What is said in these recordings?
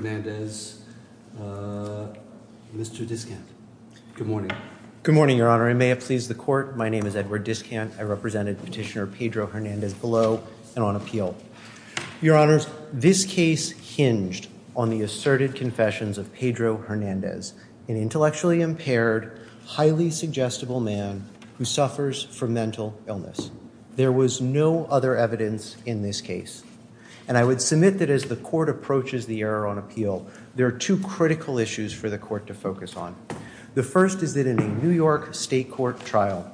Pedro Hernandez, Mr. Discant. Good morning. Good morning, Your Honor. I may have pleased the Court. My name is Edward Discant. I represented Petitioner Pedro Hernandez below and on appeal. Your Honors, this case hinged on the asserted confessions of Pedro Hernandez, an intellectually impaired, highly suggestible man who suffers from mental illness. There was no other evidence in this case. And I would submit that as the Court approaches the error on appeal, there are two critical issues for the Court to focus on. The first is that in a New York State Court trial,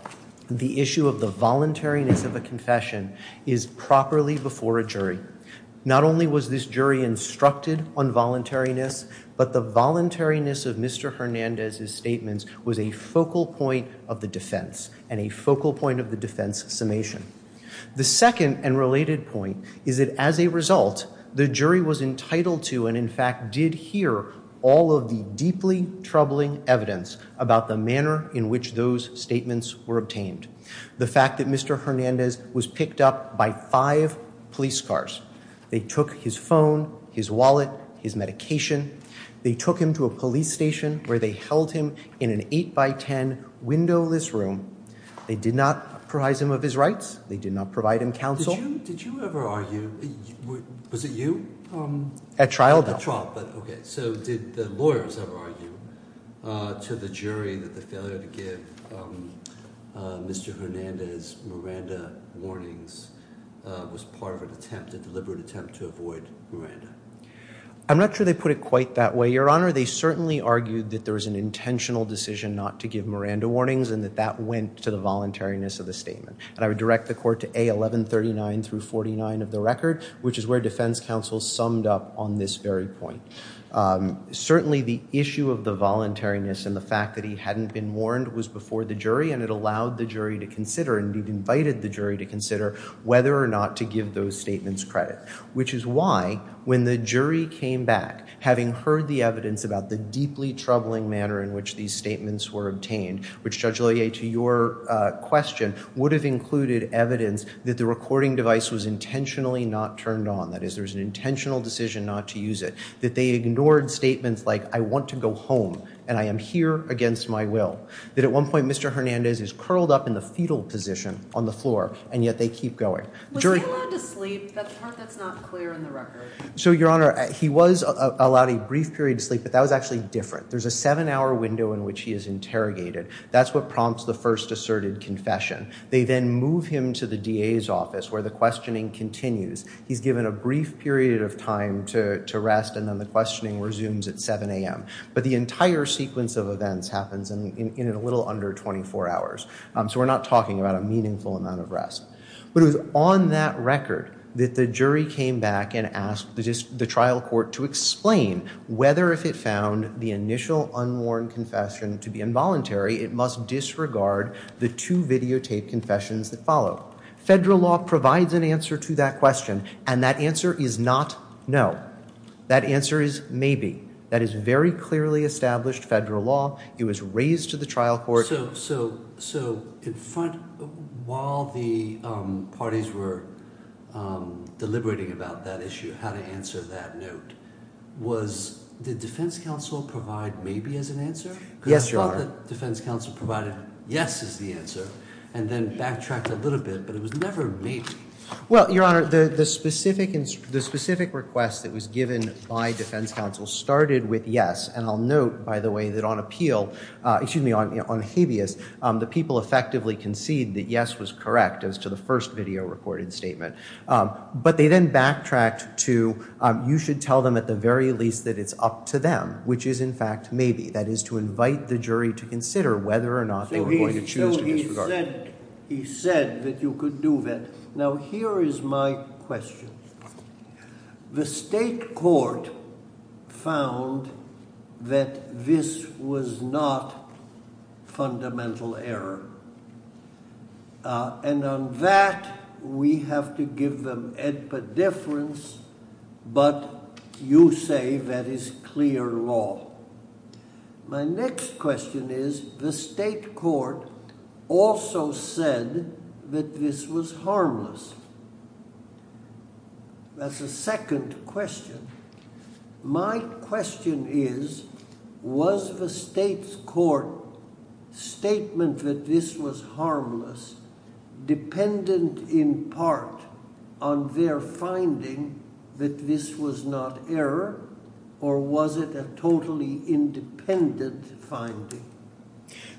the issue of the voluntariness of a confession is properly before a jury. Not only was this jury instructed on voluntariness, but the voluntariness of Mr. Hernandez's statements was a focal point of the defense and a focal point of the defense summation. The second and related point is that as a result, the jury was entitled to and, in fact, did hear all of the deeply troubling evidence about the manner in which those statements were obtained. The fact that Mr. Hernandez was picked up by five police cars. They took his phone, his wallet, his medication. They took him to a police station where they held him in an eight-by-ten windowless room. They did not prize him of his rights. They did not provide him counsel. Did you ever argue, was it you? At trial, no. At trial, but okay. So did the lawyers ever argue to the jury that the failure to give Mr. Hernandez Miranda warnings was part of an attempt, a deliberate attempt to avoid Miranda? I'm not sure they put it quite that way, Your Honor. They certainly argued that there was an intentional decision not to give Miranda warnings and that that went to the voluntariness of the statement. And I would direct the court to A. 1139 through 49 of the record, which is where defense counsel summed up on this very point. Certainly the issue of the voluntariness and the fact that he hadn't been warned was before the jury and it allowed the jury to consider and it invited the jury to consider whether or not to give those statements credit, which is why when the jury came back, having heard the evidence about the deeply troubling manner in which these statements were obtained, which Judge Lea, to your question, would have included evidence that the recording device was intentionally not turned on, that is there was an intentional decision not to use it, that they ignored statements like, I want to go home and I am here against my will, that at one point Mr. Hernandez is curled up in the fetal position on the floor and yet they keep going. Was he allowed to sleep? That's the part that's not clear in the record. So Your Honor, he was allowed a brief period of sleep, but that was actually different. There's a seven-hour window in which he is interrogated. That's what prompts the first asserted confession. They then move him to the DA's office where the questioning continues. He's given a brief period of time to rest and then the questioning resumes at 7 a.m. But the entire sequence of events happens in a little under 24 hours. So we're not talking about a meaningful amount of rest. But it was on that record that the jury came back and asked the trial court to explain whether if it found the initial unworn confession to be involuntary, it must disregard the two videotaped confessions that followed. Federal law provides an answer to that question and that answer is not no. That answer is maybe. That is very clearly established federal law. It was raised to the trial court. So while the parties were deliberating about that issue, how to answer that note, did defense counsel provide maybe as an answer? Yes, Your Honor. Because I thought that defense counsel provided yes as the answer and then backtracked a little bit, but it was never maybe. Well, Your Honor, the specific request that was given by defense counsel started with And I'll note, by the way, that on appeal, excuse me, on habeas, the people effectively conceded that yes was correct as to the first video recorded statement. But they then backtracked to you should tell them at the very least that it's up to them, which is in fact maybe. That is to invite the jury to consider whether or not they were going to choose to disregard. So he said that you could do that. Now here is my question. The state court found that this was not fundamental error. And on that, we have to give them a difference. But you say that is clear law. My next question is the state court also said that this was harmless. That's a second question. My question is, was the state's court statement that this was harmless dependent in part on their finding that this was not error or was it a totally independent finding?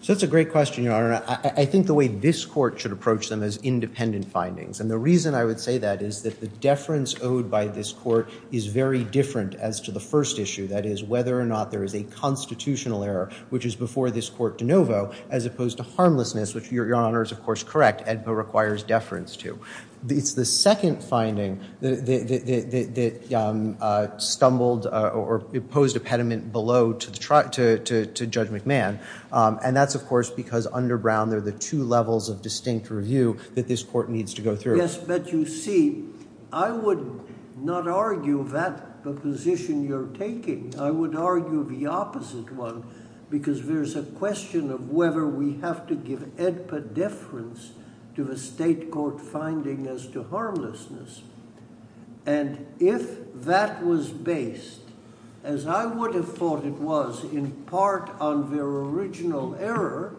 So that's a great question, Your Honor. I think the way this court should approach them is independent findings. And the reason I would say that is that the deference owed by this court is very different as to the first issue, that is whether or not there is a constitutional error, which is before this court de novo, as opposed to harmlessness, which Your Honor is of course correct, ADPA requires deference to. It's the second finding that stumbled or posed a pediment below to Judge McMahon. And that's of course because under Brown, there are the two levels of distinct review that this court needs to go through. Yes, but you see, I would not argue that position you're taking. I would argue the opposite one because there's a question of whether we have to give ADPA deference to the state court finding as to harmlessness. And if that was based, as I would have thought it was, in part on their original error,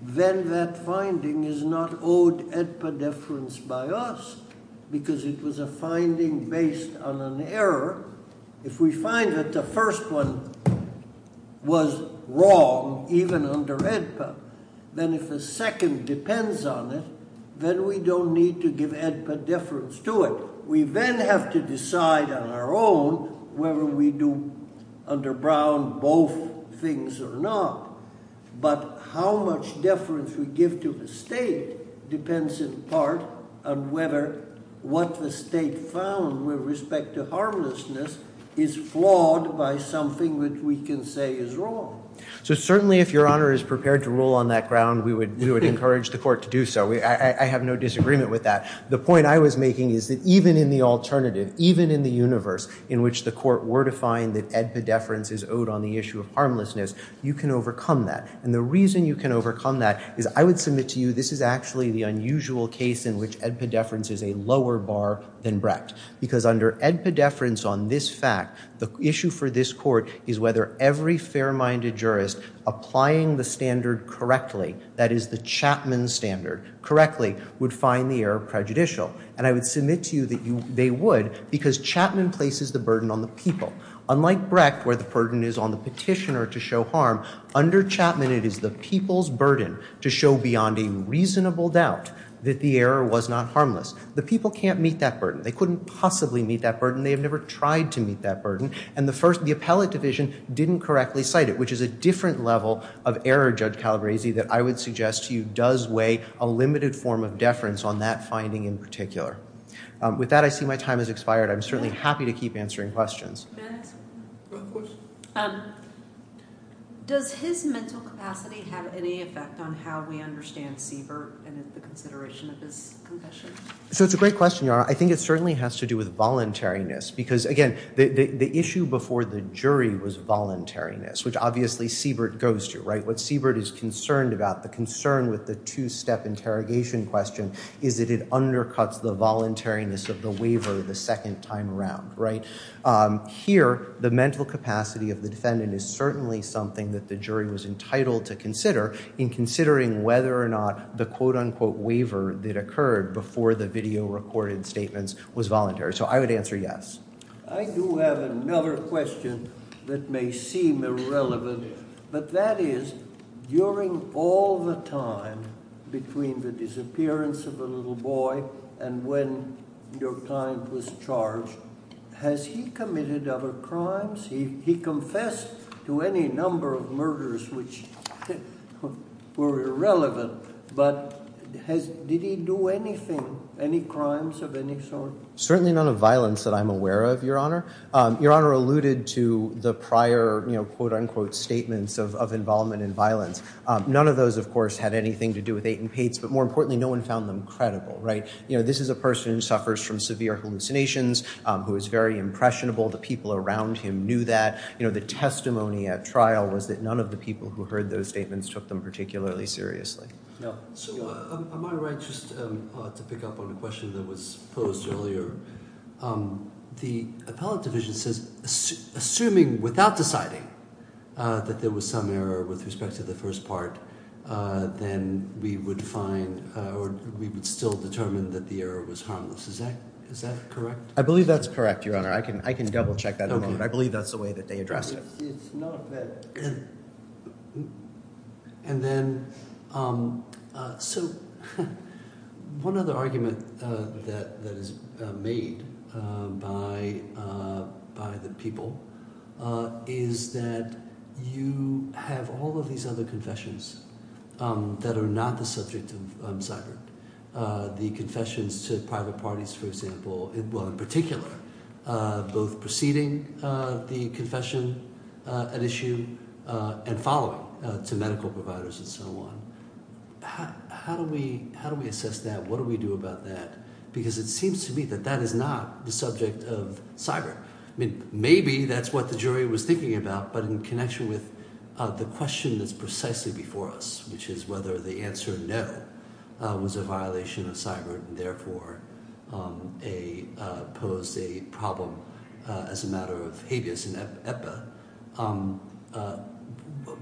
then that finding is not owed ADPA deference by us because it was a finding based on an error. If we find that the first one was wrong, even under ADPA, then if the second depends on it, then we don't need to give ADPA deference to it. We then have to decide on our own whether we do under Brown both things or not. But how much deference we give to the state depends in part on whether what the state found with respect to harmlessness is flawed by something that we can say is wrong. So certainly if Your Honor is prepared to rule on that ground, we would encourage the court to do so. I have no disagreement with that. The point I was making is that even in the alternative, even in the universe in which the court were to find that ADPA deference is owed on the issue of harmlessness, you can overcome that. And the reason you can overcome that is I would submit to you this is actually the unusual case in which ADPA deference is a lower bar than Brecht because under ADPA deference on this fact, the issue for this court is whether every fair-minded jurist applying the standard correctly, that is the Chapman standard correctly, would find the error prejudicial. And I would submit to you that they would because Chapman places the burden on the people. Unlike Brecht where the burden is on the petitioner to show harm, under Chapman it is the people's burden to show beyond a reasonable doubt that the error was not harmless. The people can't meet that burden. They couldn't possibly meet that burden. They have never tried to meet that burden. And the first, the appellate division didn't correctly cite it, which is a different level of error, Judge Calabresi, that I would suggest to you does weigh a limited form of deference on that finding in particular. With that, I see my time has expired. I'm certainly happy to keep answering questions. Does his mental capacity have any effect on how we understand Siebert and the consideration of his confession? So it's a great question, Your Honor. I think it certainly has to do with voluntariness because, again, the issue before the jury was voluntariness, which obviously Siebert goes to, right? What Siebert is concerned about, the concern with the two-step interrogation question, is that it undercuts the voluntariness of the waiver the second time around, right? Here, the mental capacity of the defendant is certainly something that the jury was entitled to consider in considering whether or not the quote-unquote waiver that occurred before the video recorded statements was voluntary. So I would answer yes. I do have another question that may seem irrelevant, but that is, during all the time between the disappearance of the little boy and when your client was charged, has he committed other crimes that were irrelevant, but did he do anything, any crimes of any sort? Certainly none of violence that I'm aware of, Your Honor. Your Honor alluded to the prior quote-unquote statements of involvement in violence. None of those, of course, had anything to do with Eighten Pates, but more importantly, no one found them credible, right? This is a person who suffers from severe hallucinations, who is very impressionable. The people around him knew that. The testimony at trial was that none of the people who heard those statements took them particularly seriously. So am I right just to pick up on a question that was posed earlier? The appellate division says, assuming without deciding that there was some error with respect to the first part, then we would find or we would still determine that the error was harmless. Is that correct? I believe that's correct, Your Honor. I can double-check that in a moment. I believe that's the way that they address it. It's not that. And then, so one other argument that is made by the people is that you have all of these other confessions that are not the subject of cyber. The confessions to private parties, for example, well, in particular, both preceding the confession at issue and following to medical providers and so on. How do we assess that? What do we do about that? Because it seems to me that that is not the subject of cyber. I mean, maybe that's what the jury was thinking about, but in connection with the question that's precisely before us, which is whether the answer no was a violation of cyber and therefore posed a problem as a matter of habeas in EPA,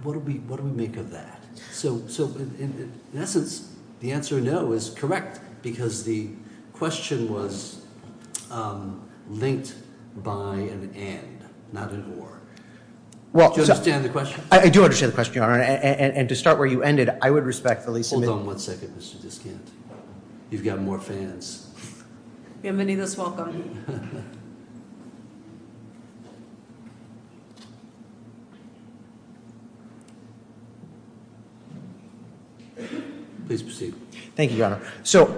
what do we make of that? So in essence, the answer no is correct because the question was linked by an and, not an or. Do you understand the question? Yes, Your Honor. And to start where you ended, I would respectfully submit... Hold on one second, Mr. Diskant. You've got more fans. Yeah, many of us welcome you. Please proceed. Thank you, Your Honor. So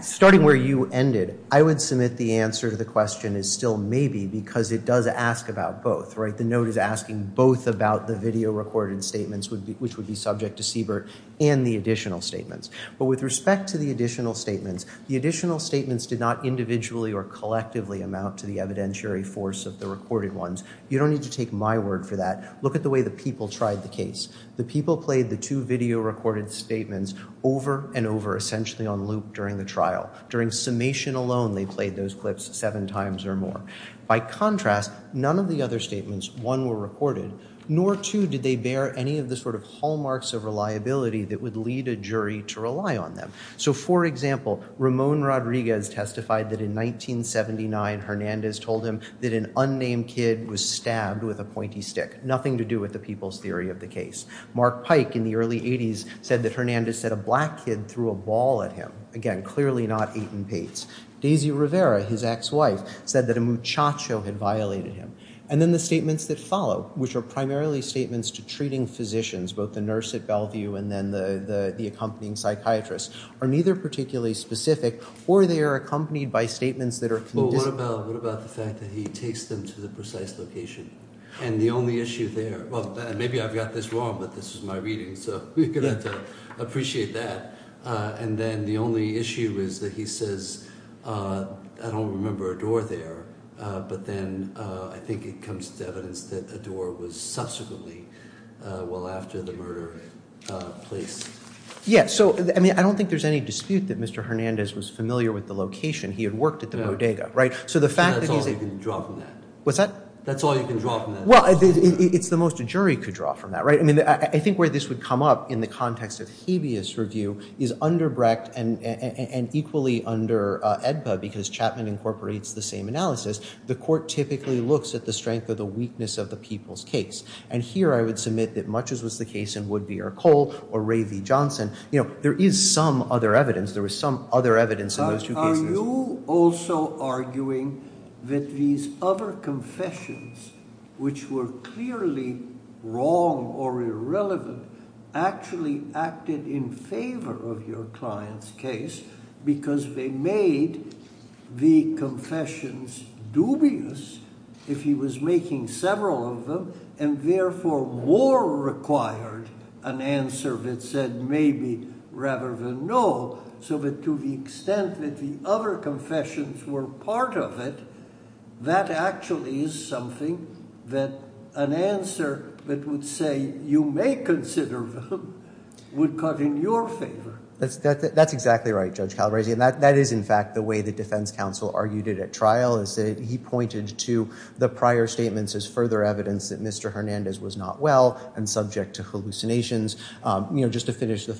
starting where you ended, I would submit the answer to the question is still maybe because it does ask about both, right? The note is asking both about the video recorded statements, which would be subject to CBERT, and the additional statements. But with respect to the additional statements, the additional statements did not individually or collectively amount to the evidentiary force of the recorded ones. You don't need to take my word for that. Look at the way the people tried the case. The people played the two video recorded statements over and over, essentially on loop during the trial. During summation alone, they played those clips seven times or more. By contrast, none of the other statements, one were recorded, nor two did they bear any of the sort of hallmarks of reliability that would lead a jury to rely on them. So for example, Ramon Rodriguez testified that in 1979, Hernandez told him that an unnamed kid was stabbed with a pointy stick. Nothing to do with the people's theory of the case. Mark Pike in the early 80s said that Hernandez said a black kid threw a ball at him. Again, clearly not Eaton Pates. Daisy Rivera, his ex-wife, said that a muchacho had violated him. And then the statements that follow, which are primarily statements to treating physicians, both the nurse at Bellevue and then the accompanying psychiatrist, are neither particularly specific, or they are accompanied by statements that are condis— Well, what about the fact that he takes them to the precise location? And the only issue there—well, maybe I've got this wrong, but this is my reading, so you're going to have to appreciate that. And then the only issue is that he says, I don't remember a door there, but then I think it comes to evidence that a door was subsequently, well, after the murder, placed. Yeah, so, I mean, I don't think there's any dispute that Mr. Hernandez was familiar with the location. He had worked at the bodega, right? So the fact that he's— That's all you can draw from that. What's that? That's all you can draw from that. Well, it's the most a jury could draw from that, right? I mean, I think where this would come up in the context of habeas review is under Brecht and equally under Edba, because Chapman incorporates the same analysis. The court typically looks at the strength or the weakness of the people's case. And here I would submit that much as was the case in Woodby or Cole or Ray V. Johnson, you know, there is some other evidence. There was some other evidence in those two cases. Are you also arguing that these other confessions, which were clearly wrong or irrelevant, actually acted in favor of your client's case because they made the confessions dubious, if he was making several of them, and therefore more required an answer that said maybe rather than no, so that to the extent that the other confessions were part of it, that actually is something that an answer that would say you may consider them would cut in your favor. That's exactly right, Judge Calabresi. And that is in fact the way the defense counsel argued it at trial, is that he pointed to the prior statements as further evidence that Mr. Hernandez was not well and subject to hallucinations. You know, just to finish the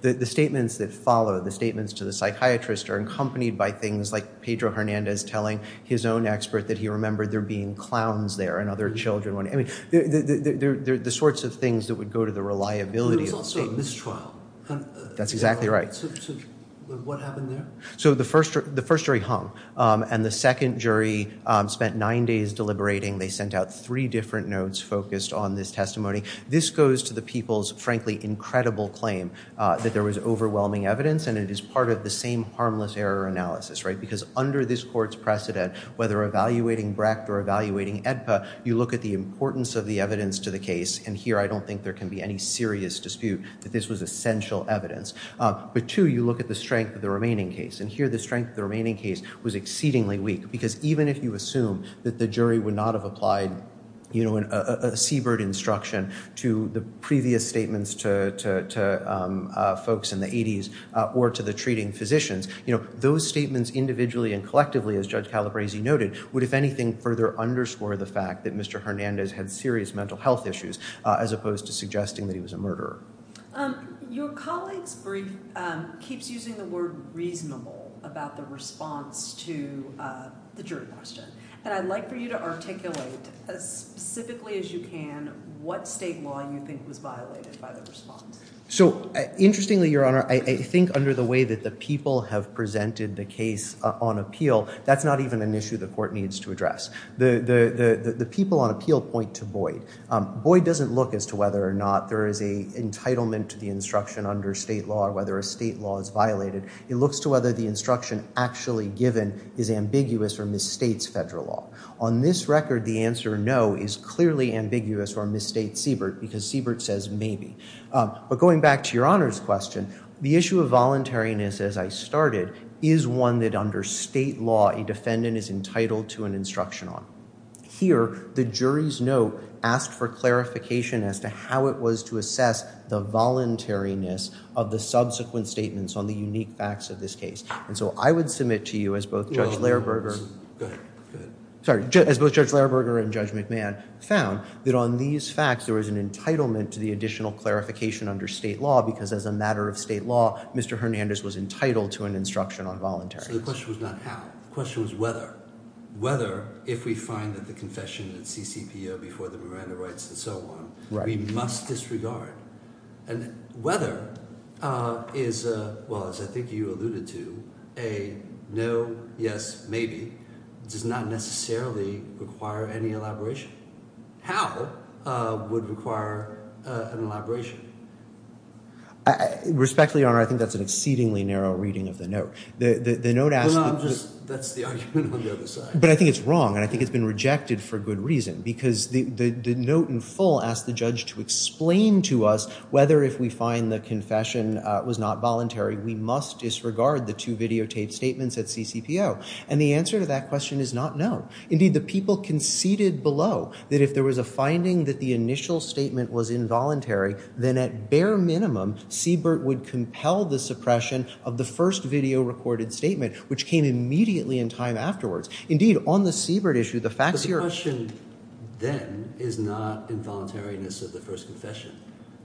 The statements that follow, the statements to the psychiatrist are accompanied by things like Pedro Hernandez telling his own expert that he remembered there being clowns there and other children. I mean, the sorts of things that would go to the reliability of the statements. But it was also a mistrial. That's exactly right. So what happened there? So the first jury hung, and the second jury spent nine days deliberating. They sent out three different notes focused on this testimony. This goes to the people's frankly incredible claim that there was overwhelming evidence, and it is part of the same harmless error analysis, right? Because under this court's precedent, whether evaluating Brecht or evaluating AEDPA, you look at the importance of the evidence to the case, and here I don't think there can be any serious dispute that this was essential evidence. But two, you look at the strength of the remaining case, and here the strength of the remaining case was exceedingly weak. Because even if you assume that the jury would not have applied a seabird instruction to the previous statements to folks in the 80s or to the treating physicians, those statements individually and collectively, as Judge Calabresi noted, would if anything further underscore the fact that Mr. Hernandez had serious mental health issues as opposed to suggesting that he was a murderer. Your colleague's brief keeps using the word reasonable about the response to the jury question, and I'd like for you to articulate as specifically as you can what state law you think was violated by the response. So interestingly, Your Honor, I think under the way that the people have presented the case on appeal, that's not even an issue the court needs to address. The people on appeal point to Boyd. Boyd doesn't look as to whether or not there is an entitlement to the instruction under state law or whether a state law is violated. It looks to whether the instruction actually given is ambiguous or misstates federal law. On this record, the answer no is clearly ambiguous or misstates seabird, because seabird says maybe. But going back to Your Honor's question, the issue of voluntariness, as I started, is one that under state law a defendant is entitled to an instruction on. Here, the jury's note asked for clarification as to how it was to assess the voluntariness of the subsequent statements on the unique facts of this case. And so I would submit to you as both Judge Lairberger and Judge McMahon found that on these facts there was an entitlement to the additional clarification under state law, because as a matter of state law, Mr. Hernandez was entitled to an instruction on voluntariness. So the question was not how. The question was whether. Whether, if we find that the confession that CCPO before the Miranda rights and so on, we must disregard. And whether is, well, as I think you alluded to, a no, yes, maybe does not necessarily require any elaboration. How would require an elaboration? Respectfully, Your Honor, I think that's an exceedingly narrow reading of the note. The note asks... That's the argument on the other side. But I think it's wrong, and I think it's been rejected for good reason, because the note in full asked the judge to explain to us whether, if we find the confession was not voluntary, we must disregard the two videotaped statements at CCPO. And the answer to that question is not no. Indeed, the people conceded below that if there was a finding that the initial statement was involuntary, then at bare minimum, Siebert would compel the suppression of the first video recorded statement, which came immediately in time afterwards. Indeed, on the Siebert issue, the facts here... But the question then is not involuntariness of the first confession.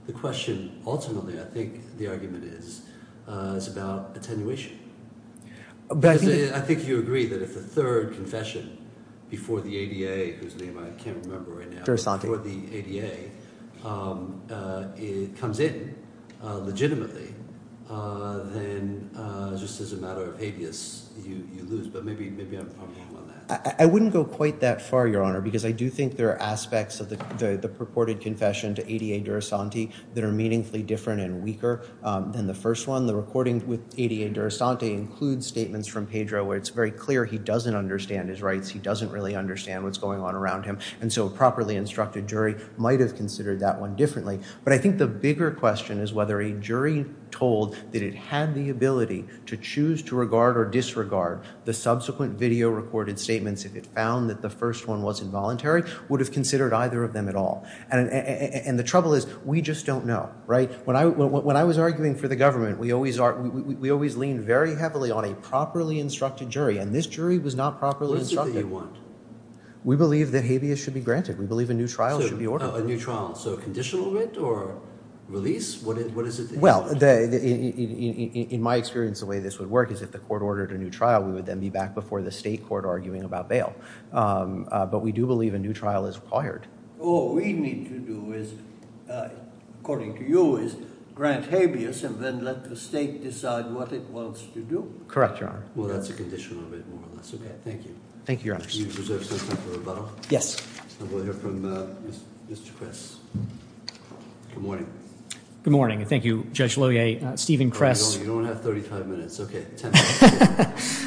The question ultimately, I think the argument is, is about attenuation. But I think... Because I think you agree that if the third confession before the ADA, whose name I can't remember right now, before the ADA, comes in legitimately, then just as a matter of habeas, you lose. But maybe I'm wrong on that. I wouldn't go quite that far, Your Honor, because I do think there are aspects of the purported confession to ADA Durasanti that are meaningfully different and weaker than the first one. The recording with ADA Durasanti includes statements from Pedro where it's very clear he doesn't understand his rights. He doesn't really understand what's going on around him, and so a properly instructed jury might have considered that one differently. But I think the bigger question is whether a jury told that it had the ability to choose to regard or disregard the subsequent video recorded statements if it found that the first one was involuntary, would have considered either of them at all. And the trouble is, we just don't know, right? When I was arguing for the government, we always leaned very heavily on a properly instructed jury, and this jury was not properly instructed. Which do you want? We believe that habeas should be granted. We believe a new trial should be ordered. A new trial. So a conditional writ or release? What is it? Well, in my experience, the way this would work is if the court ordered a new trial, we would then be back before the state court arguing about bail. But we do believe a new trial is required. All we need to do is, according to you, is grant habeas and then let the state decide what it wants to do? Correct, Your Honor. Well, that's a conditional writ, more or less. Okay, thank you. Thank you, Your Honor. Do you reserve some time for rebuttal? Yes. We'll hear from Mr. Kress. Good morning. Good morning. Thank you, Judge Lohier. Stephen Kress. You don't have 35 minutes. Okay, 10 minutes.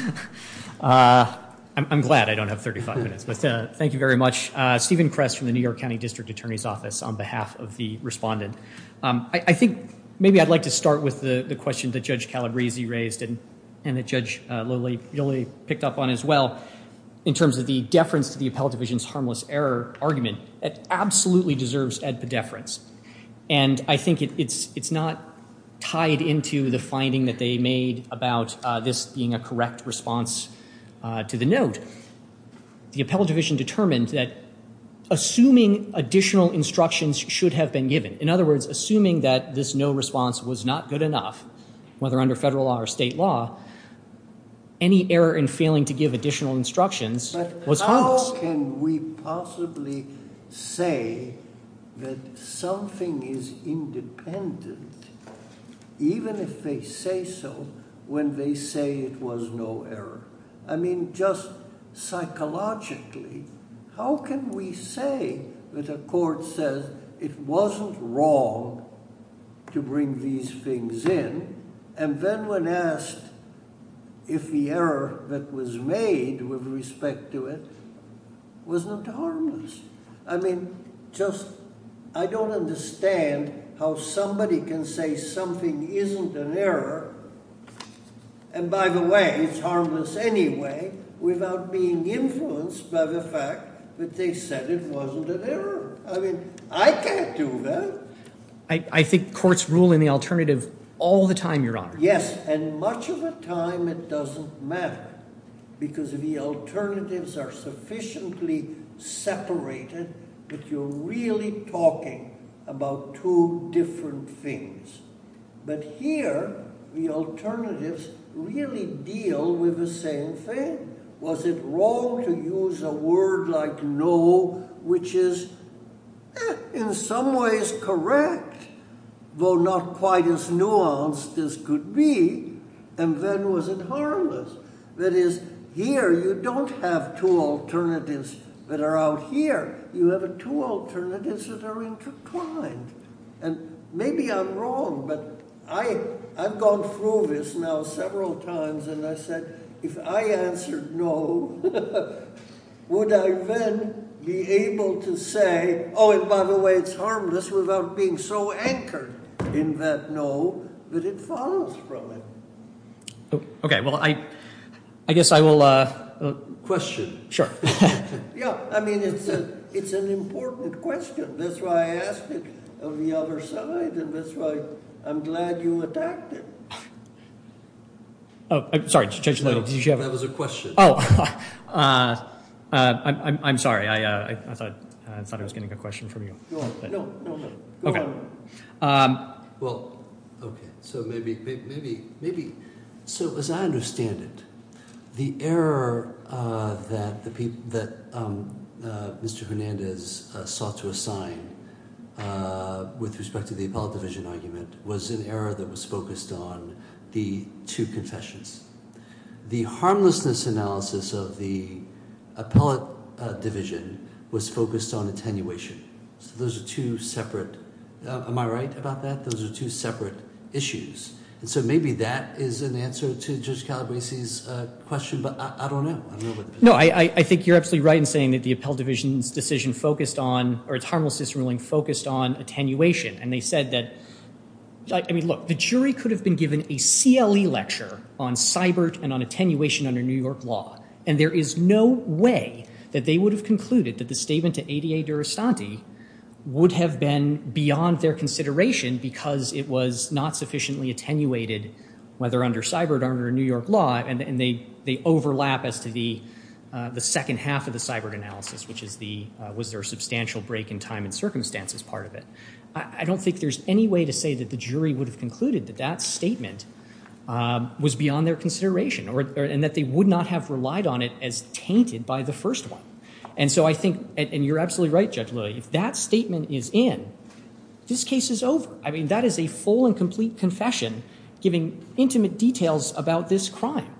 I'm glad I don't have 35 minutes, but thank you very much. Stephen Kress from the New York County District Attorney's Office on behalf of the respondent. I think maybe I'd like to start with the question that Judge Calabresi raised and that Judge Yolley picked up on as well in terms of the deference to the appellate division's harmless error argument. It absolutely deserves ad pedeference, and I think it's not tied into the finding that they made about this being a correct response to the note. The appellate division determined that assuming additional instructions should have been given, in other words, assuming that this no response was not good enough, whether under federal law or state law, any error in failing to give additional instructions was harmless. But how can we possibly say that something is independent, even if they say so, when they say it was no error? I mean, just psychologically, how can we say that a court says it wasn't wrong to bring these things in and then when asked if the error that was made with respect to it wasn't harmless? I mean, just I don't understand how somebody can say something isn't an error, and by the way, it's harmless anyway, without being influenced by the fact that they said it wasn't an error. I mean, I can't do that. I think courts rule in the alternative all the time, Your Honor. Yes, and much of the time it doesn't matter because the alternatives are sufficiently separated that you're really talking about two different things. But here the alternatives really deal with the same thing. Was it wrong to use a word like no, which is in some ways correct, though not quite as nuanced as could be, and then was it harmless? That is, here you don't have two alternatives that are out here. You have two alternatives that are intertwined. And maybe I'm wrong, but I've gone through this now several times, and I said if I answered no, would I then be able to say, oh, and by the way, it's harmless without being so anchored in that no that it follows from it? Okay, well, I guess I will question. Yeah, I mean, it's an important question. That's why I asked it on the other side, and that's why I'm glad you attacked it. Oh, sorry. That was a question. Oh, I'm sorry. I thought I was getting a question from you. No, no, no. Well, okay, so maybe, so as I understand it, the error that Mr. Hernandez sought to assign with respect to the appellate division argument was an error that was focused on the two confessions. The harmlessness analysis of the appellate division was focused on attenuation. So those are two separate, am I right about that? Those are two separate issues. And so maybe that is an answer to Judge Calabresi's question, but I don't know. No, I think you're absolutely right in saying that the appellate division's decision focused on, or its harmlessness ruling focused on attenuation. And they said that, I mean, look, the jury could have been given a CLE lecture on CYBIRT and on attenuation under New York law, and there is no way that they would have concluded that the statement to ADA Durastanti would have been beyond their consideration because it was not sufficiently attenuated, whether under CYBIRT or under New York law, and they overlap as to the second half of the CYBIRT analysis, which is the was there a substantial break in time and circumstance as part of it. I don't think there's any way to say that the jury would have concluded that that statement was beyond their consideration and that they would not have relied on it as tainted by the first one. And so I think, and you're absolutely right, Judge Lilly, if that statement is in, this case is over. I mean, that is a full and complete confession giving intimate details about this crime.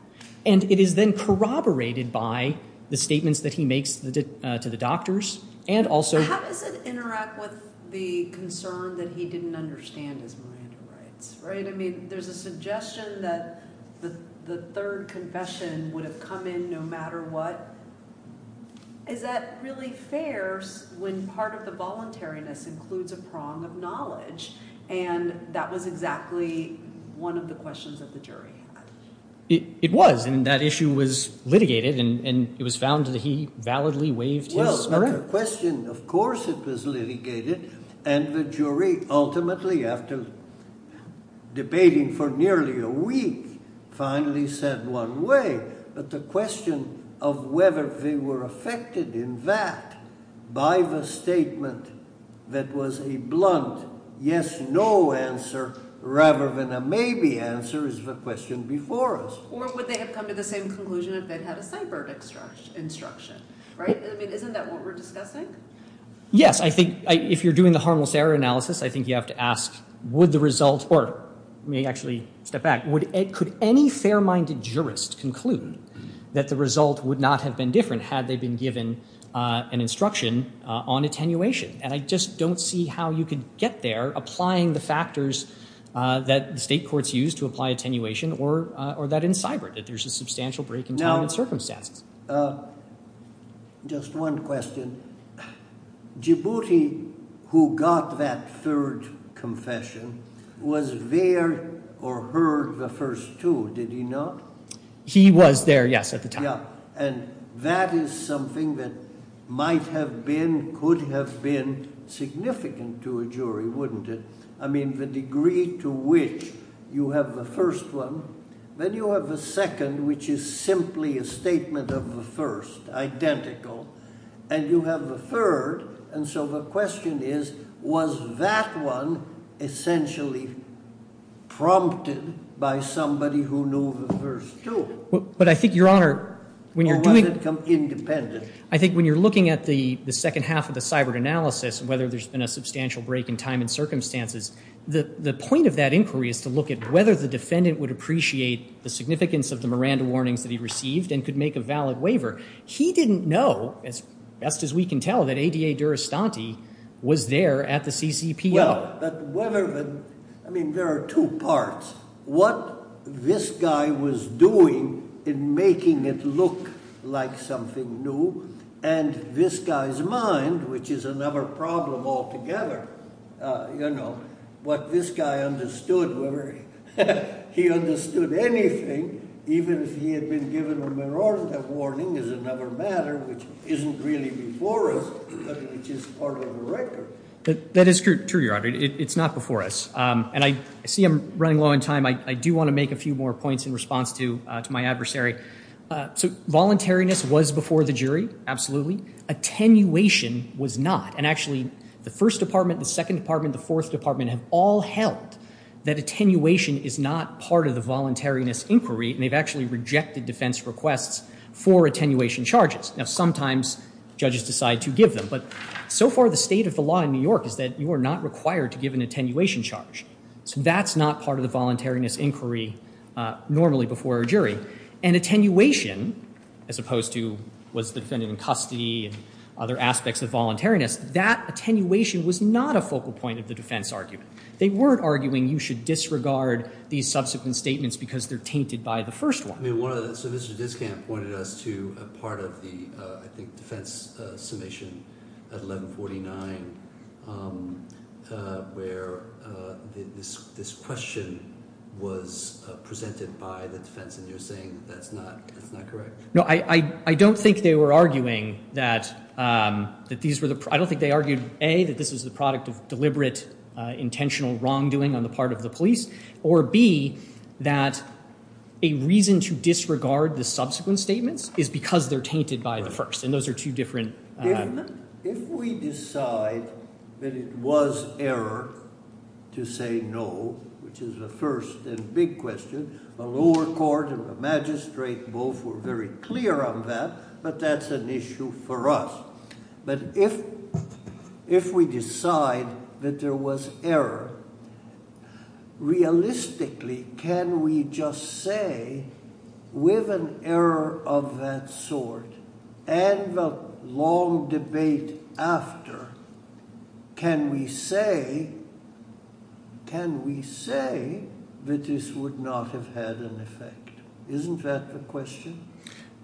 And it is then corroborated by the statements that he makes to the doctors and also- How does it interact with the concern that he didn't understand his Miranda rights, right? I mean, there's a suggestion that the third confession would have come in no matter what. Is that really fair when part of the voluntariness includes a prong of knowledge? And that was exactly one of the questions that the jury had. It was, and that issue was litigated, and it was found that he validly waived his Miranda- Well, the question, of course it was litigated, and the jury ultimately, after debating for nearly a week, finally said one way. But the question of whether they were affected in that by the statement that was a blunt yes-no answer rather than a maybe answer is the question before us. Or would they have come to the same conclusion if they'd had a ciphered instruction, right? I mean, isn't that what we're discussing? Yes, I think if you're doing the harmless error analysis, I think you have to ask, would the result- or let me actually step back. Could any fair-minded jurist conclude that the result would not have been different had they been given an instruction on attenuation? And I just don't see how you could get there applying the factors that state courts use to apply attenuation or that in cyber, that there's a substantial break in time and circumstances. Now, just one question. Djibouti, who got that third confession, was there or heard the first two, did he not? He was there, yes, at the time. And that is something that might have been, could have been significant to a jury, wouldn't it? I mean, the degree to which you have the first one, then you have the second, which is simply a statement of the first, identical, and you have the third, and so the question is, was that one essentially prompted by somebody who knew the first two? But I think, Your Honor, when you're doing- Or was it independent? I think when you're looking at the second half of the cyber analysis, whether there's been a substantial break in time and circumstances, the point of that inquiry is to look at whether the defendant would appreciate the significance of the Miranda warnings that he received and could make a valid waiver. He didn't know, as best as we can tell, that ADA Durastanti was there at the CCPO. I mean, there are two parts. What this guy was doing in making it look like something new, and this guy's mind, which is another problem altogether, you know, what this guy understood, whether he understood anything, even if he had been given a Miranda warning is another matter, which isn't really before us, but which is part of the record. That is true, Your Honor. It's not before us, and I see I'm running low on time. I do want to make a few more points in response to my adversary. So voluntariness was before the jury, absolutely. Attenuation was not, and actually the First Department, the Second Department, the Fourth Department have all held that attenuation is not part of the voluntariness inquiry, and they've actually rejected defense requests for attenuation charges. Now, sometimes judges decide to give them, but so far the state of the law in New York is that you are not required to give an attenuation charge. So that's not part of the voluntariness inquiry normally before a jury. And attenuation, as opposed to was the defendant in custody and other aspects of voluntariness, that attenuation was not a focal point of the defense argument. They weren't arguing you should disregard these subsequent statements because they're tainted by the first one. So Mr. Discamp pointed us to a part of the, I think, defense summation at 1149 where this question was presented by the defense, and you're saying that's not correct. No, I don't think they were arguing that these were the— I don't think they argued, A, that this was the product of deliberate, intentional wrongdoing on the part of the police, or B, that a reason to disregard the subsequent statements is because they're tainted by the first, and those are two different— If we decide that it was error to say no, which is the first and big question, the lower court and the magistrate both were very clear on that, but that's an issue for us. But if we decide that there was error, realistically, can we just say with an error of that sort and the long debate after, can we say that this would not have had an effect? Isn't that the question?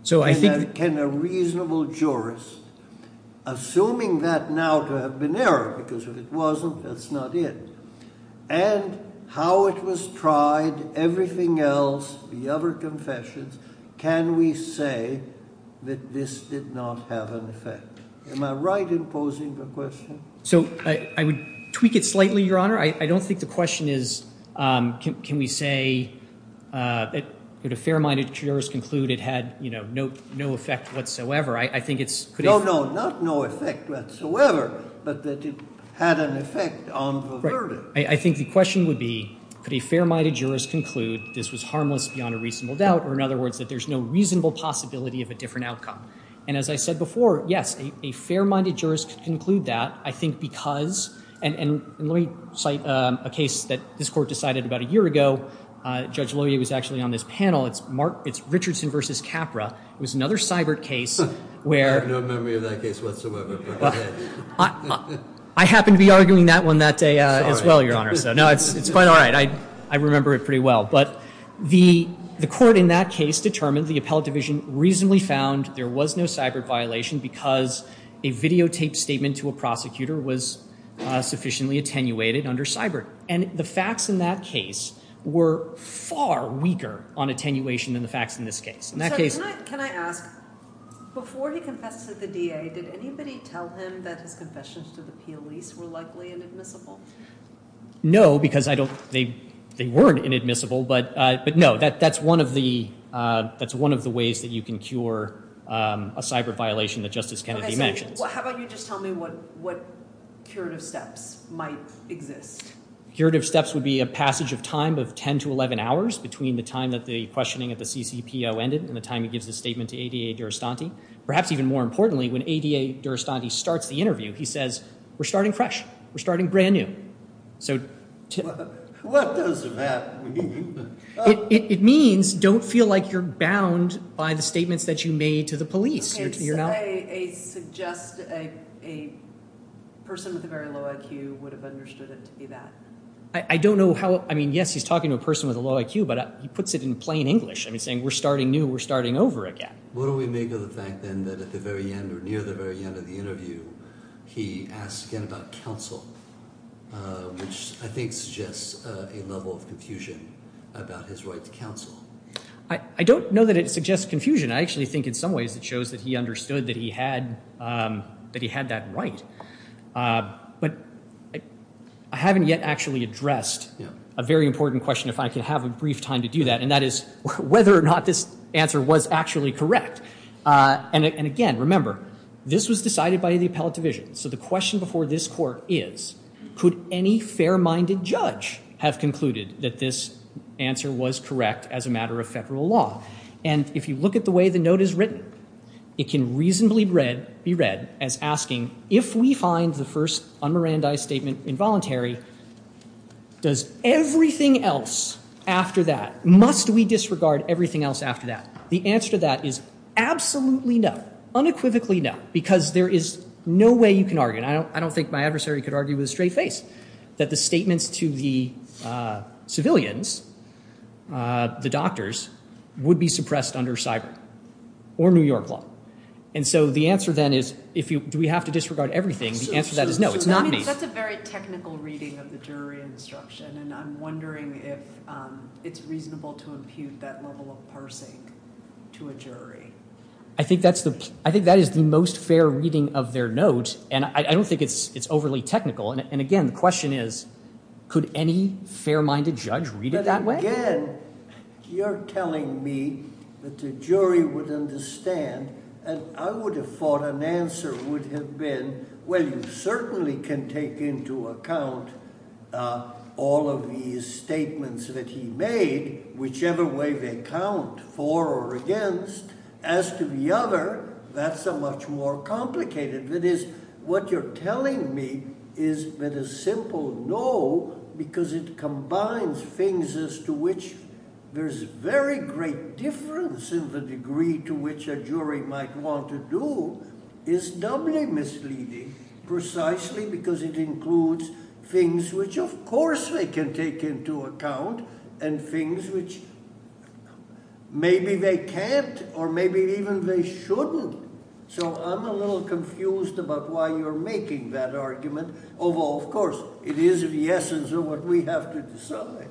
Can a reasonable jurist, assuming that now to have been error, because if it wasn't, that's not it, and how it was tried, everything else, the other confessions, can we say that this did not have an effect? Am I right in posing the question? So I would tweak it slightly, Your Honor. I don't think the question is can we say that a fair-minded jurist concluded it had no effect whatsoever. I think it's— No, no, not no effect whatsoever, but that it had an effect on the verdict. I think the question would be could a fair-minded jurist conclude this was harmless beyond a reasonable doubt, or in other words, that there's no reasonable possibility of a different outcome. And as I said before, yes, a fair-minded jurist could conclude that. I think because—and let me cite a case that this Court decided about a year ago. Judge Lowy was actually on this panel. It's Richardson v. Capra. It was another cyber case where— I have no memory of that case whatsoever. I happened to be arguing that one that day as well, Your Honor. No, it's quite all right. I remember it pretty well. But the Court in that case determined the appellate division reasonably found there was no cyber violation because a videotaped statement to a prosecutor was sufficiently attenuated under cyber. And the facts in that case were far weaker on attenuation than the facts in this case. In that case— Can I ask, before he confessed to the DA, did anybody tell him that his confessions to the police were likely inadmissible? No, because I don't—they weren't inadmissible. But no, that's one of the ways that you can cure a cyber violation that Justice Kennedy mentioned. How about you just tell me what curative steps might exist? Curative steps would be a passage of time of 10 to 11 hours between the time that the questioning at the CCPO ended and the time he gives his statement to ADA Durastanti. Perhaps even more importantly, when ADA Durastanti starts the interview, he says, we're starting fresh. We're starting brand new. What does that mean? It means don't feel like you're bound by the statements that you made to the police. Okay, so I suggest a person with a very low IQ would have understood it to be that. I don't know how—I mean, yes, he's talking to a person with a low IQ, but he puts it in plain English. I mean, saying, we're starting new. We're starting over again. What do we make of the fact, then, that at the very end or near the very end of the interview, he asks again about counsel, which I think suggests a level of confusion about his right to counsel. I don't know that it suggests confusion. I actually think in some ways it shows that he understood that he had that right. But I haven't yet actually addressed a very important question, if I could have a brief time to do that, and that is whether or not this answer was actually correct. And again, remember, this was decided by the appellate division. So the question before this Court is, could any fair-minded judge have concluded that this answer was correct as a matter of Federal law? And if you look at the way the note is written, it can reasonably be read as asking, if we find the first un-Mirandi statement involuntary, does everything else after that— must we disregard everything else after that? The answer to that is absolutely no, unequivocally no, because there is no way you can argue, and I don't think my adversary could argue with a straight face, that the statements to the civilians, the doctors, would be suppressed under cyber or New York law. And so the answer, then, is do we have to disregard everything? The answer to that is no, it's not me. That's a very technical reading of the jury instruction, and I'm wondering if it's reasonable to impute that level of parsing to a jury. I think that is the most fair reading of their note, and I don't think it's overly technical. And again, the question is, could any fair-minded judge read it that way? Again, you're telling me that the jury would understand, and I would have thought an answer would have been, well, you certainly can take into account all of these statements that he made, whichever way they count, for or against. As to the other, that's a much more complicated. That is, what you're telling me is that a simple no, because it combines things as to which there's very great difference in the degree to which a jury might want to do, is doubly misleading, precisely because it includes things which, of course, they can take into account and things which maybe they can't or maybe even they shouldn't. So I'm a little confused about why you're making that argument, although, of course, it is the essence of what we have to decide.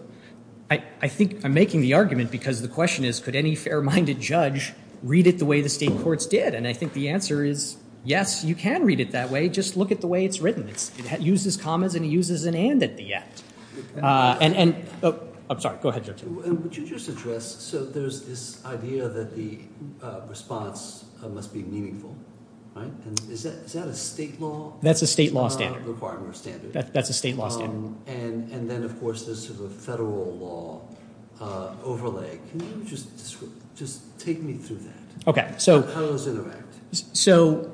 I think I'm making the argument because the question is, could any fair-minded judge read it the way the state courts did? And I think the answer is, yes, you can read it that way. Just look at the way it's written. It uses commas and it uses an and at the end. I'm sorry. Go ahead, Judge. Would you just address, so there's this idea that the response must be meaningful, right? Is that a state law requirement or standard? That's a state law standard. And then, of course, this is a federal law overlay. Can you just take me through that? Okay. How does it interact? So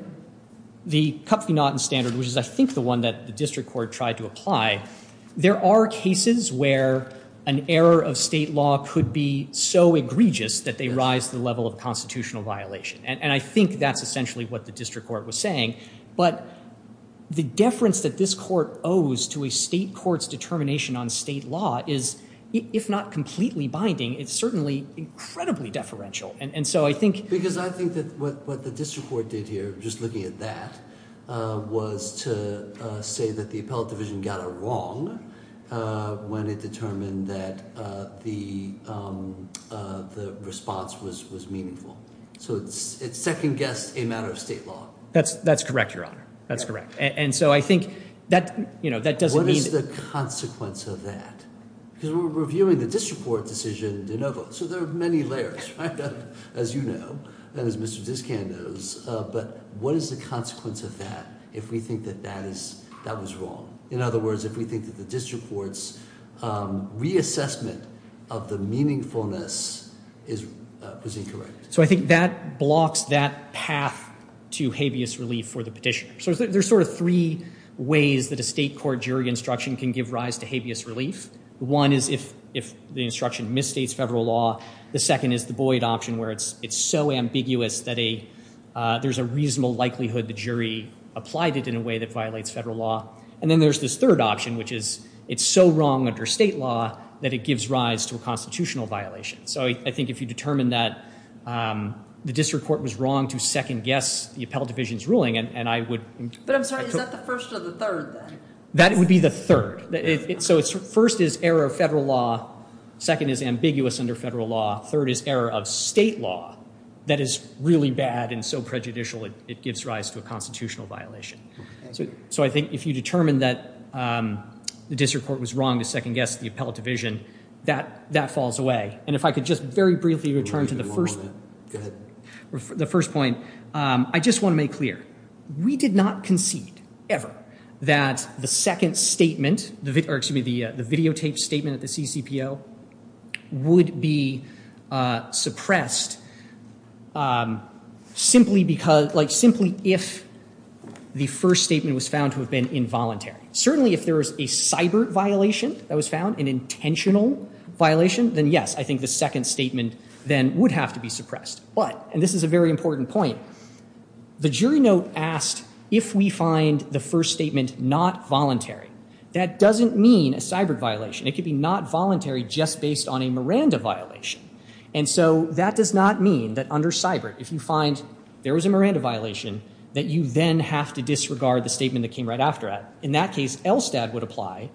the Cup v. Naughton standard, which is, I think, the one that the district court tried to apply, there are cases where an error of state law could be so egregious that they rise to the level of constitutional violation. And I think that's essentially what the district court was saying. But the deference that this court owes to a state court's determination on state law is, if not completely binding, it's certainly incredibly deferential. And so I think— Because I think that what the district court did here, just looking at that, was to say that the appellate division got it wrong when it determined that the response was meaningful. So it second-guessed a matter of state law. That's correct, Your Honor. That's correct. And so I think that doesn't mean— What is the consequence of that? Because we're reviewing the district court decision in de novo. So there are many layers, right, as you know and as Mr. Discan knows. But what is the consequence of that if we think that that was wrong? In other words, if we think that the district court's reassessment of the meaningfulness was incorrect. So I think that blocks that path to habeas relief for the petitioner. So there's sort of three ways that a state court jury instruction can give rise to habeas relief. One is if the instruction misstates federal law. The second is the Boyd option, where it's so ambiguous that there's a reasonable likelihood the jury applied it in a way that violates federal law. And then there's this third option, which is it's so wrong under state law that it gives rise to a constitutional violation. So I think if you determine that the district court was wrong to second-guess the appellate division's ruling, and I would— But I'm sorry. Is that the first or the third then? That would be the third. So first is error of federal law. Second is ambiguous under federal law. Third is error of state law that is really bad and so prejudicial it gives rise to a constitutional violation. So I think if you determine that the district court was wrong to second-guess the appellate division, that falls away. And if I could just very briefly return to the first— Go ahead. The first point, I just want to make clear, we did not concede ever that the second statement— or excuse me, the videotaped statement at the CCPO would be suppressed simply because— like simply if the first statement was found to have been involuntary. Certainly if there is a cyber violation that was found, an intentional violation, then yes, I think the second statement then would have to be suppressed. But—and this is a very important point— the jury note asked if we find the first statement not voluntary. That doesn't mean a cyber violation. It could be not voluntary just based on a Miranda violation. And so that does not mean that under cyber, if you find there was a Miranda violation, that you then have to disregard the statement that came right after it. In that case, ELSTAD would apply,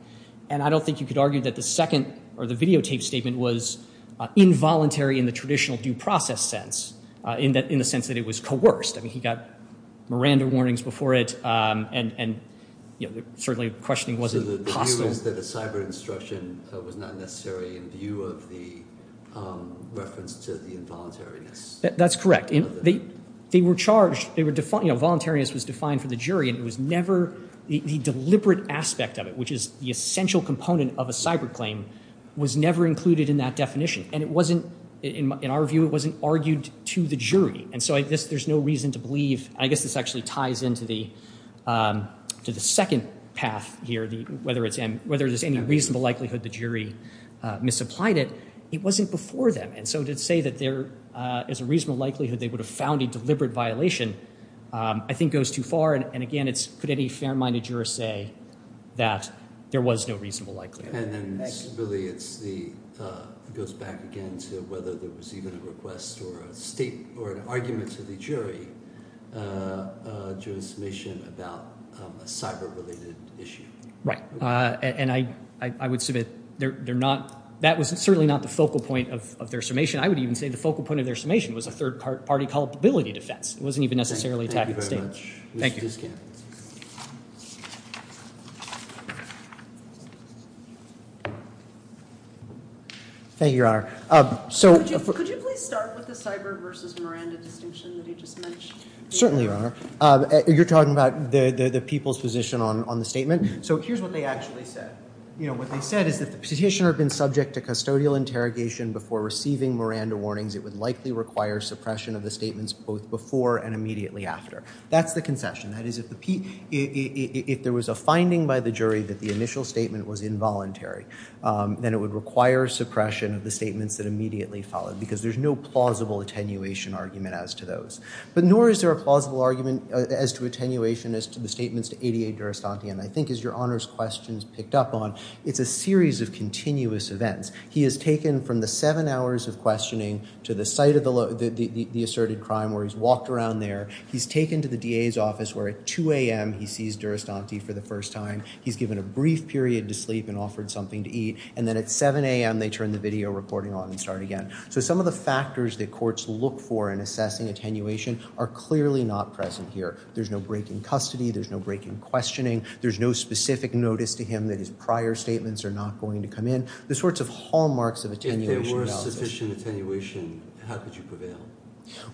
and I don't think you could argue that the second— or the videotaped statement was involuntary in the traditional due process sense, in the sense that it was coerced. I mean, he got Miranda warnings before it, and certainly questioning wasn't possible. So the view is that the cyber instruction was not necessarily in view of the reference to the involuntariness? That's correct. They were charged—you know, voluntariness was defined for the jury, and it was never—the deliberate aspect of it, which is the essential component of a cyber claim, was never included in that definition. And it wasn't—in our view, it wasn't argued to the jury. And so there's no reason to believe—I guess this actually ties into the second path here, whether there's any reasonable likelihood the jury misapplied it. It wasn't before them, and so to say that there is a reasonable likelihood they would have found a deliberate violation I think goes too far. And again, could any fair-minded juror say that there was no reasonable likelihood? And then really it's the—it goes back again to whether there was even a request or an argument to the jury during summation about a cyber-related issue. Right. And I would submit they're not—that was certainly not the focal point of their summation. I would even say the focal point of their summation was a third-party culpability defense. It wasn't even necessarily a tactical statement. Thank you. Thank you, Your Honor. So— Could you please start with the cyber versus Miranda distinction that he just mentioned? Certainly, Your Honor. You're talking about the people's position on the statement. So here's what they actually said. You know, what they said is if the petitioner had been subject to custodial interrogation before receiving Miranda warnings, it would likely require suppression of the statements both before and immediately after. That's the concession. That is, if there was a finding by the jury that the initial statement was involuntary, then it would require suppression of the statements that immediately followed because there's no plausible attenuation argument as to those. But nor is there a plausible argument as to attenuation as to the statements to 88 Durastanti. And I think as Your Honor's questions picked up on, it's a series of continuous events. He is taken from the seven hours of questioning to the site of the asserted crime where he's walked around there. He's taken to the DA's office where at 2 a.m. he sees Durastanti for the first time. He's given a brief period to sleep and offered something to eat. And then at 7 a.m. they turn the video recording on and start again. So some of the factors that courts look for in assessing attenuation are clearly not present here. There's no break in custody. There's no break in questioning. There's no specific notice to him that his prior statements are not going to come in. There's sorts of hallmarks of attenuation. If there were sufficient attenuation, how could you prevail?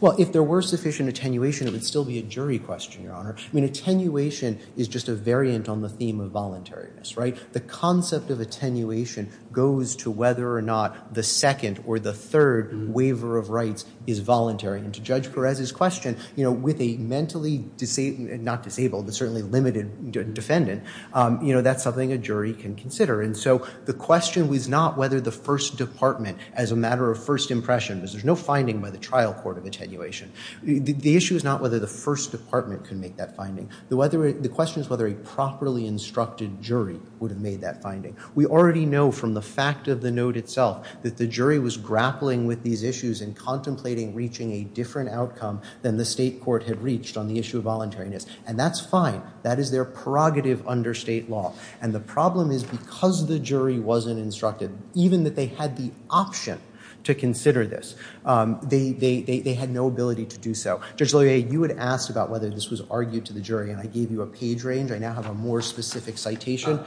Well, if there were sufficient attenuation, it would still be a jury question, Your Honor. I mean, attenuation is just a variant on the theme of voluntariness, right? The concept of attenuation goes to whether or not the second or the third waiver of rights is voluntary. And to Judge Perez's question, you know, with a mentally disabled, not disabled, but certainly limited defendant, you know, that's something a jury can consider. And so the question was not whether the first department, as a matter of first impression, because there's no finding by the trial court of attenuation. The issue is not whether the first department can make that finding. The question is whether a properly instructed jury would have made that finding. We already know from the fact of the note itself that the jury was grappling with these issues and contemplating reaching a different outcome than the state court had reached on the issue of voluntariness. And that's fine. That is their prerogative under state law. And the problem is because the jury wasn't instructed, even that they had the option to consider this, they had no ability to do so. Judge Loyer, you had asked about whether this was argued to the jury. And I gave you a page range. I now have a more specific citation,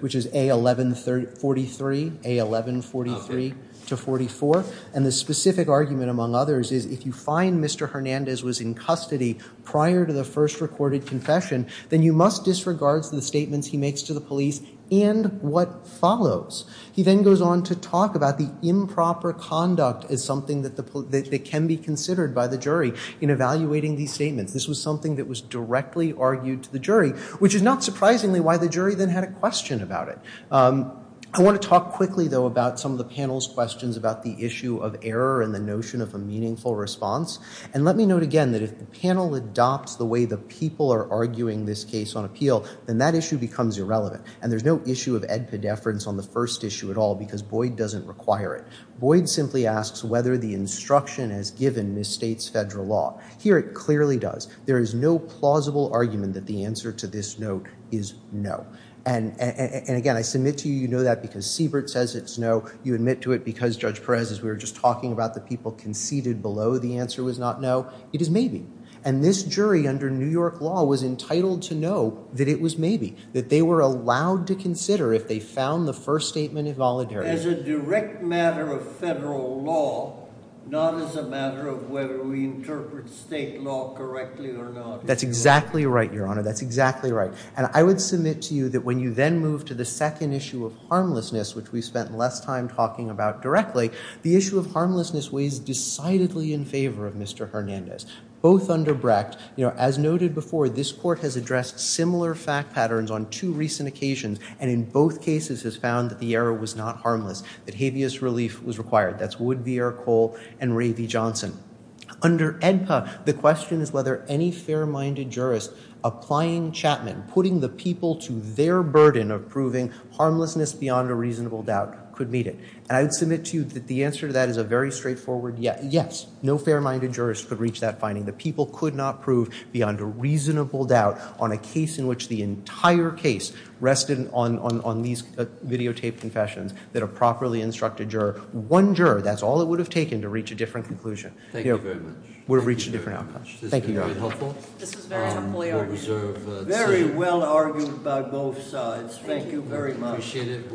which is A1143, A1143 to 44. And the specific argument, among others, is if you find Mr. Hernandez was in custody prior to the first recorded confession, then you must disregard the statements he makes to the police and what follows. He then goes on to talk about the improper conduct as something that can be considered by the jury in evaluating these statements. This was something that was directly argued to the jury, which is not surprisingly why the jury then had a question about it. I want to talk quickly, though, about some of the panel's questions about the issue of error and the notion of a meaningful response. And let me note again that if the panel adopts the way the people are arguing this case on appeal, then that issue becomes irrelevant. And there's no issue of edpedeference on the first issue at all because Boyd doesn't require it. Boyd simply asks whether the instruction as given misstates federal law. Here it clearly does. There is no plausible argument that the answer to this note is no. And, again, I submit to you you know that because Siebert says it's no. You admit to it because, Judge Perez, as we were just talking about, the people conceded below the answer was not no. It is maybe. And this jury under New York law was entitled to know that it was maybe, that they were allowed to consider if they found the first statement involuntary. As a direct matter of federal law, not as a matter of whether we interpret state law correctly or not. That's exactly right, Your Honor. That's exactly right. And I would submit to you that when you then move to the second issue of harmlessness, which we spent less time talking about directly, the issue of harmlessness weighs decidedly in favor of Mr. Hernandez. Both under Brecht, you know, as noted before, this court has addressed similar fact patterns on two recent occasions, and in both cases has found that the error was not harmless, that habeas relief was required. That's Wood, V. Eric Cole, and Ray V. Johnson. Under AEDPA, the question is whether any fair-minded jurist applying Chapman, putting the people to their burden of proving harmlessness beyond a reasonable doubt, could meet it. And I would submit to you that the answer to that is a very straightforward yes. No fair-minded jurist could reach that finding. The people could not prove beyond a reasonable doubt on a case in which the entire case rested on these videotaped confessions that a properly instructed juror. One juror, that's all it would have taken to reach a different conclusion. Thank you very much. Would have reached a different outcome. Thank you, Your Honor. This has been very helpful. This was very helpfully argued. Very well argued by both sides. Thank you very much. Appreciate it.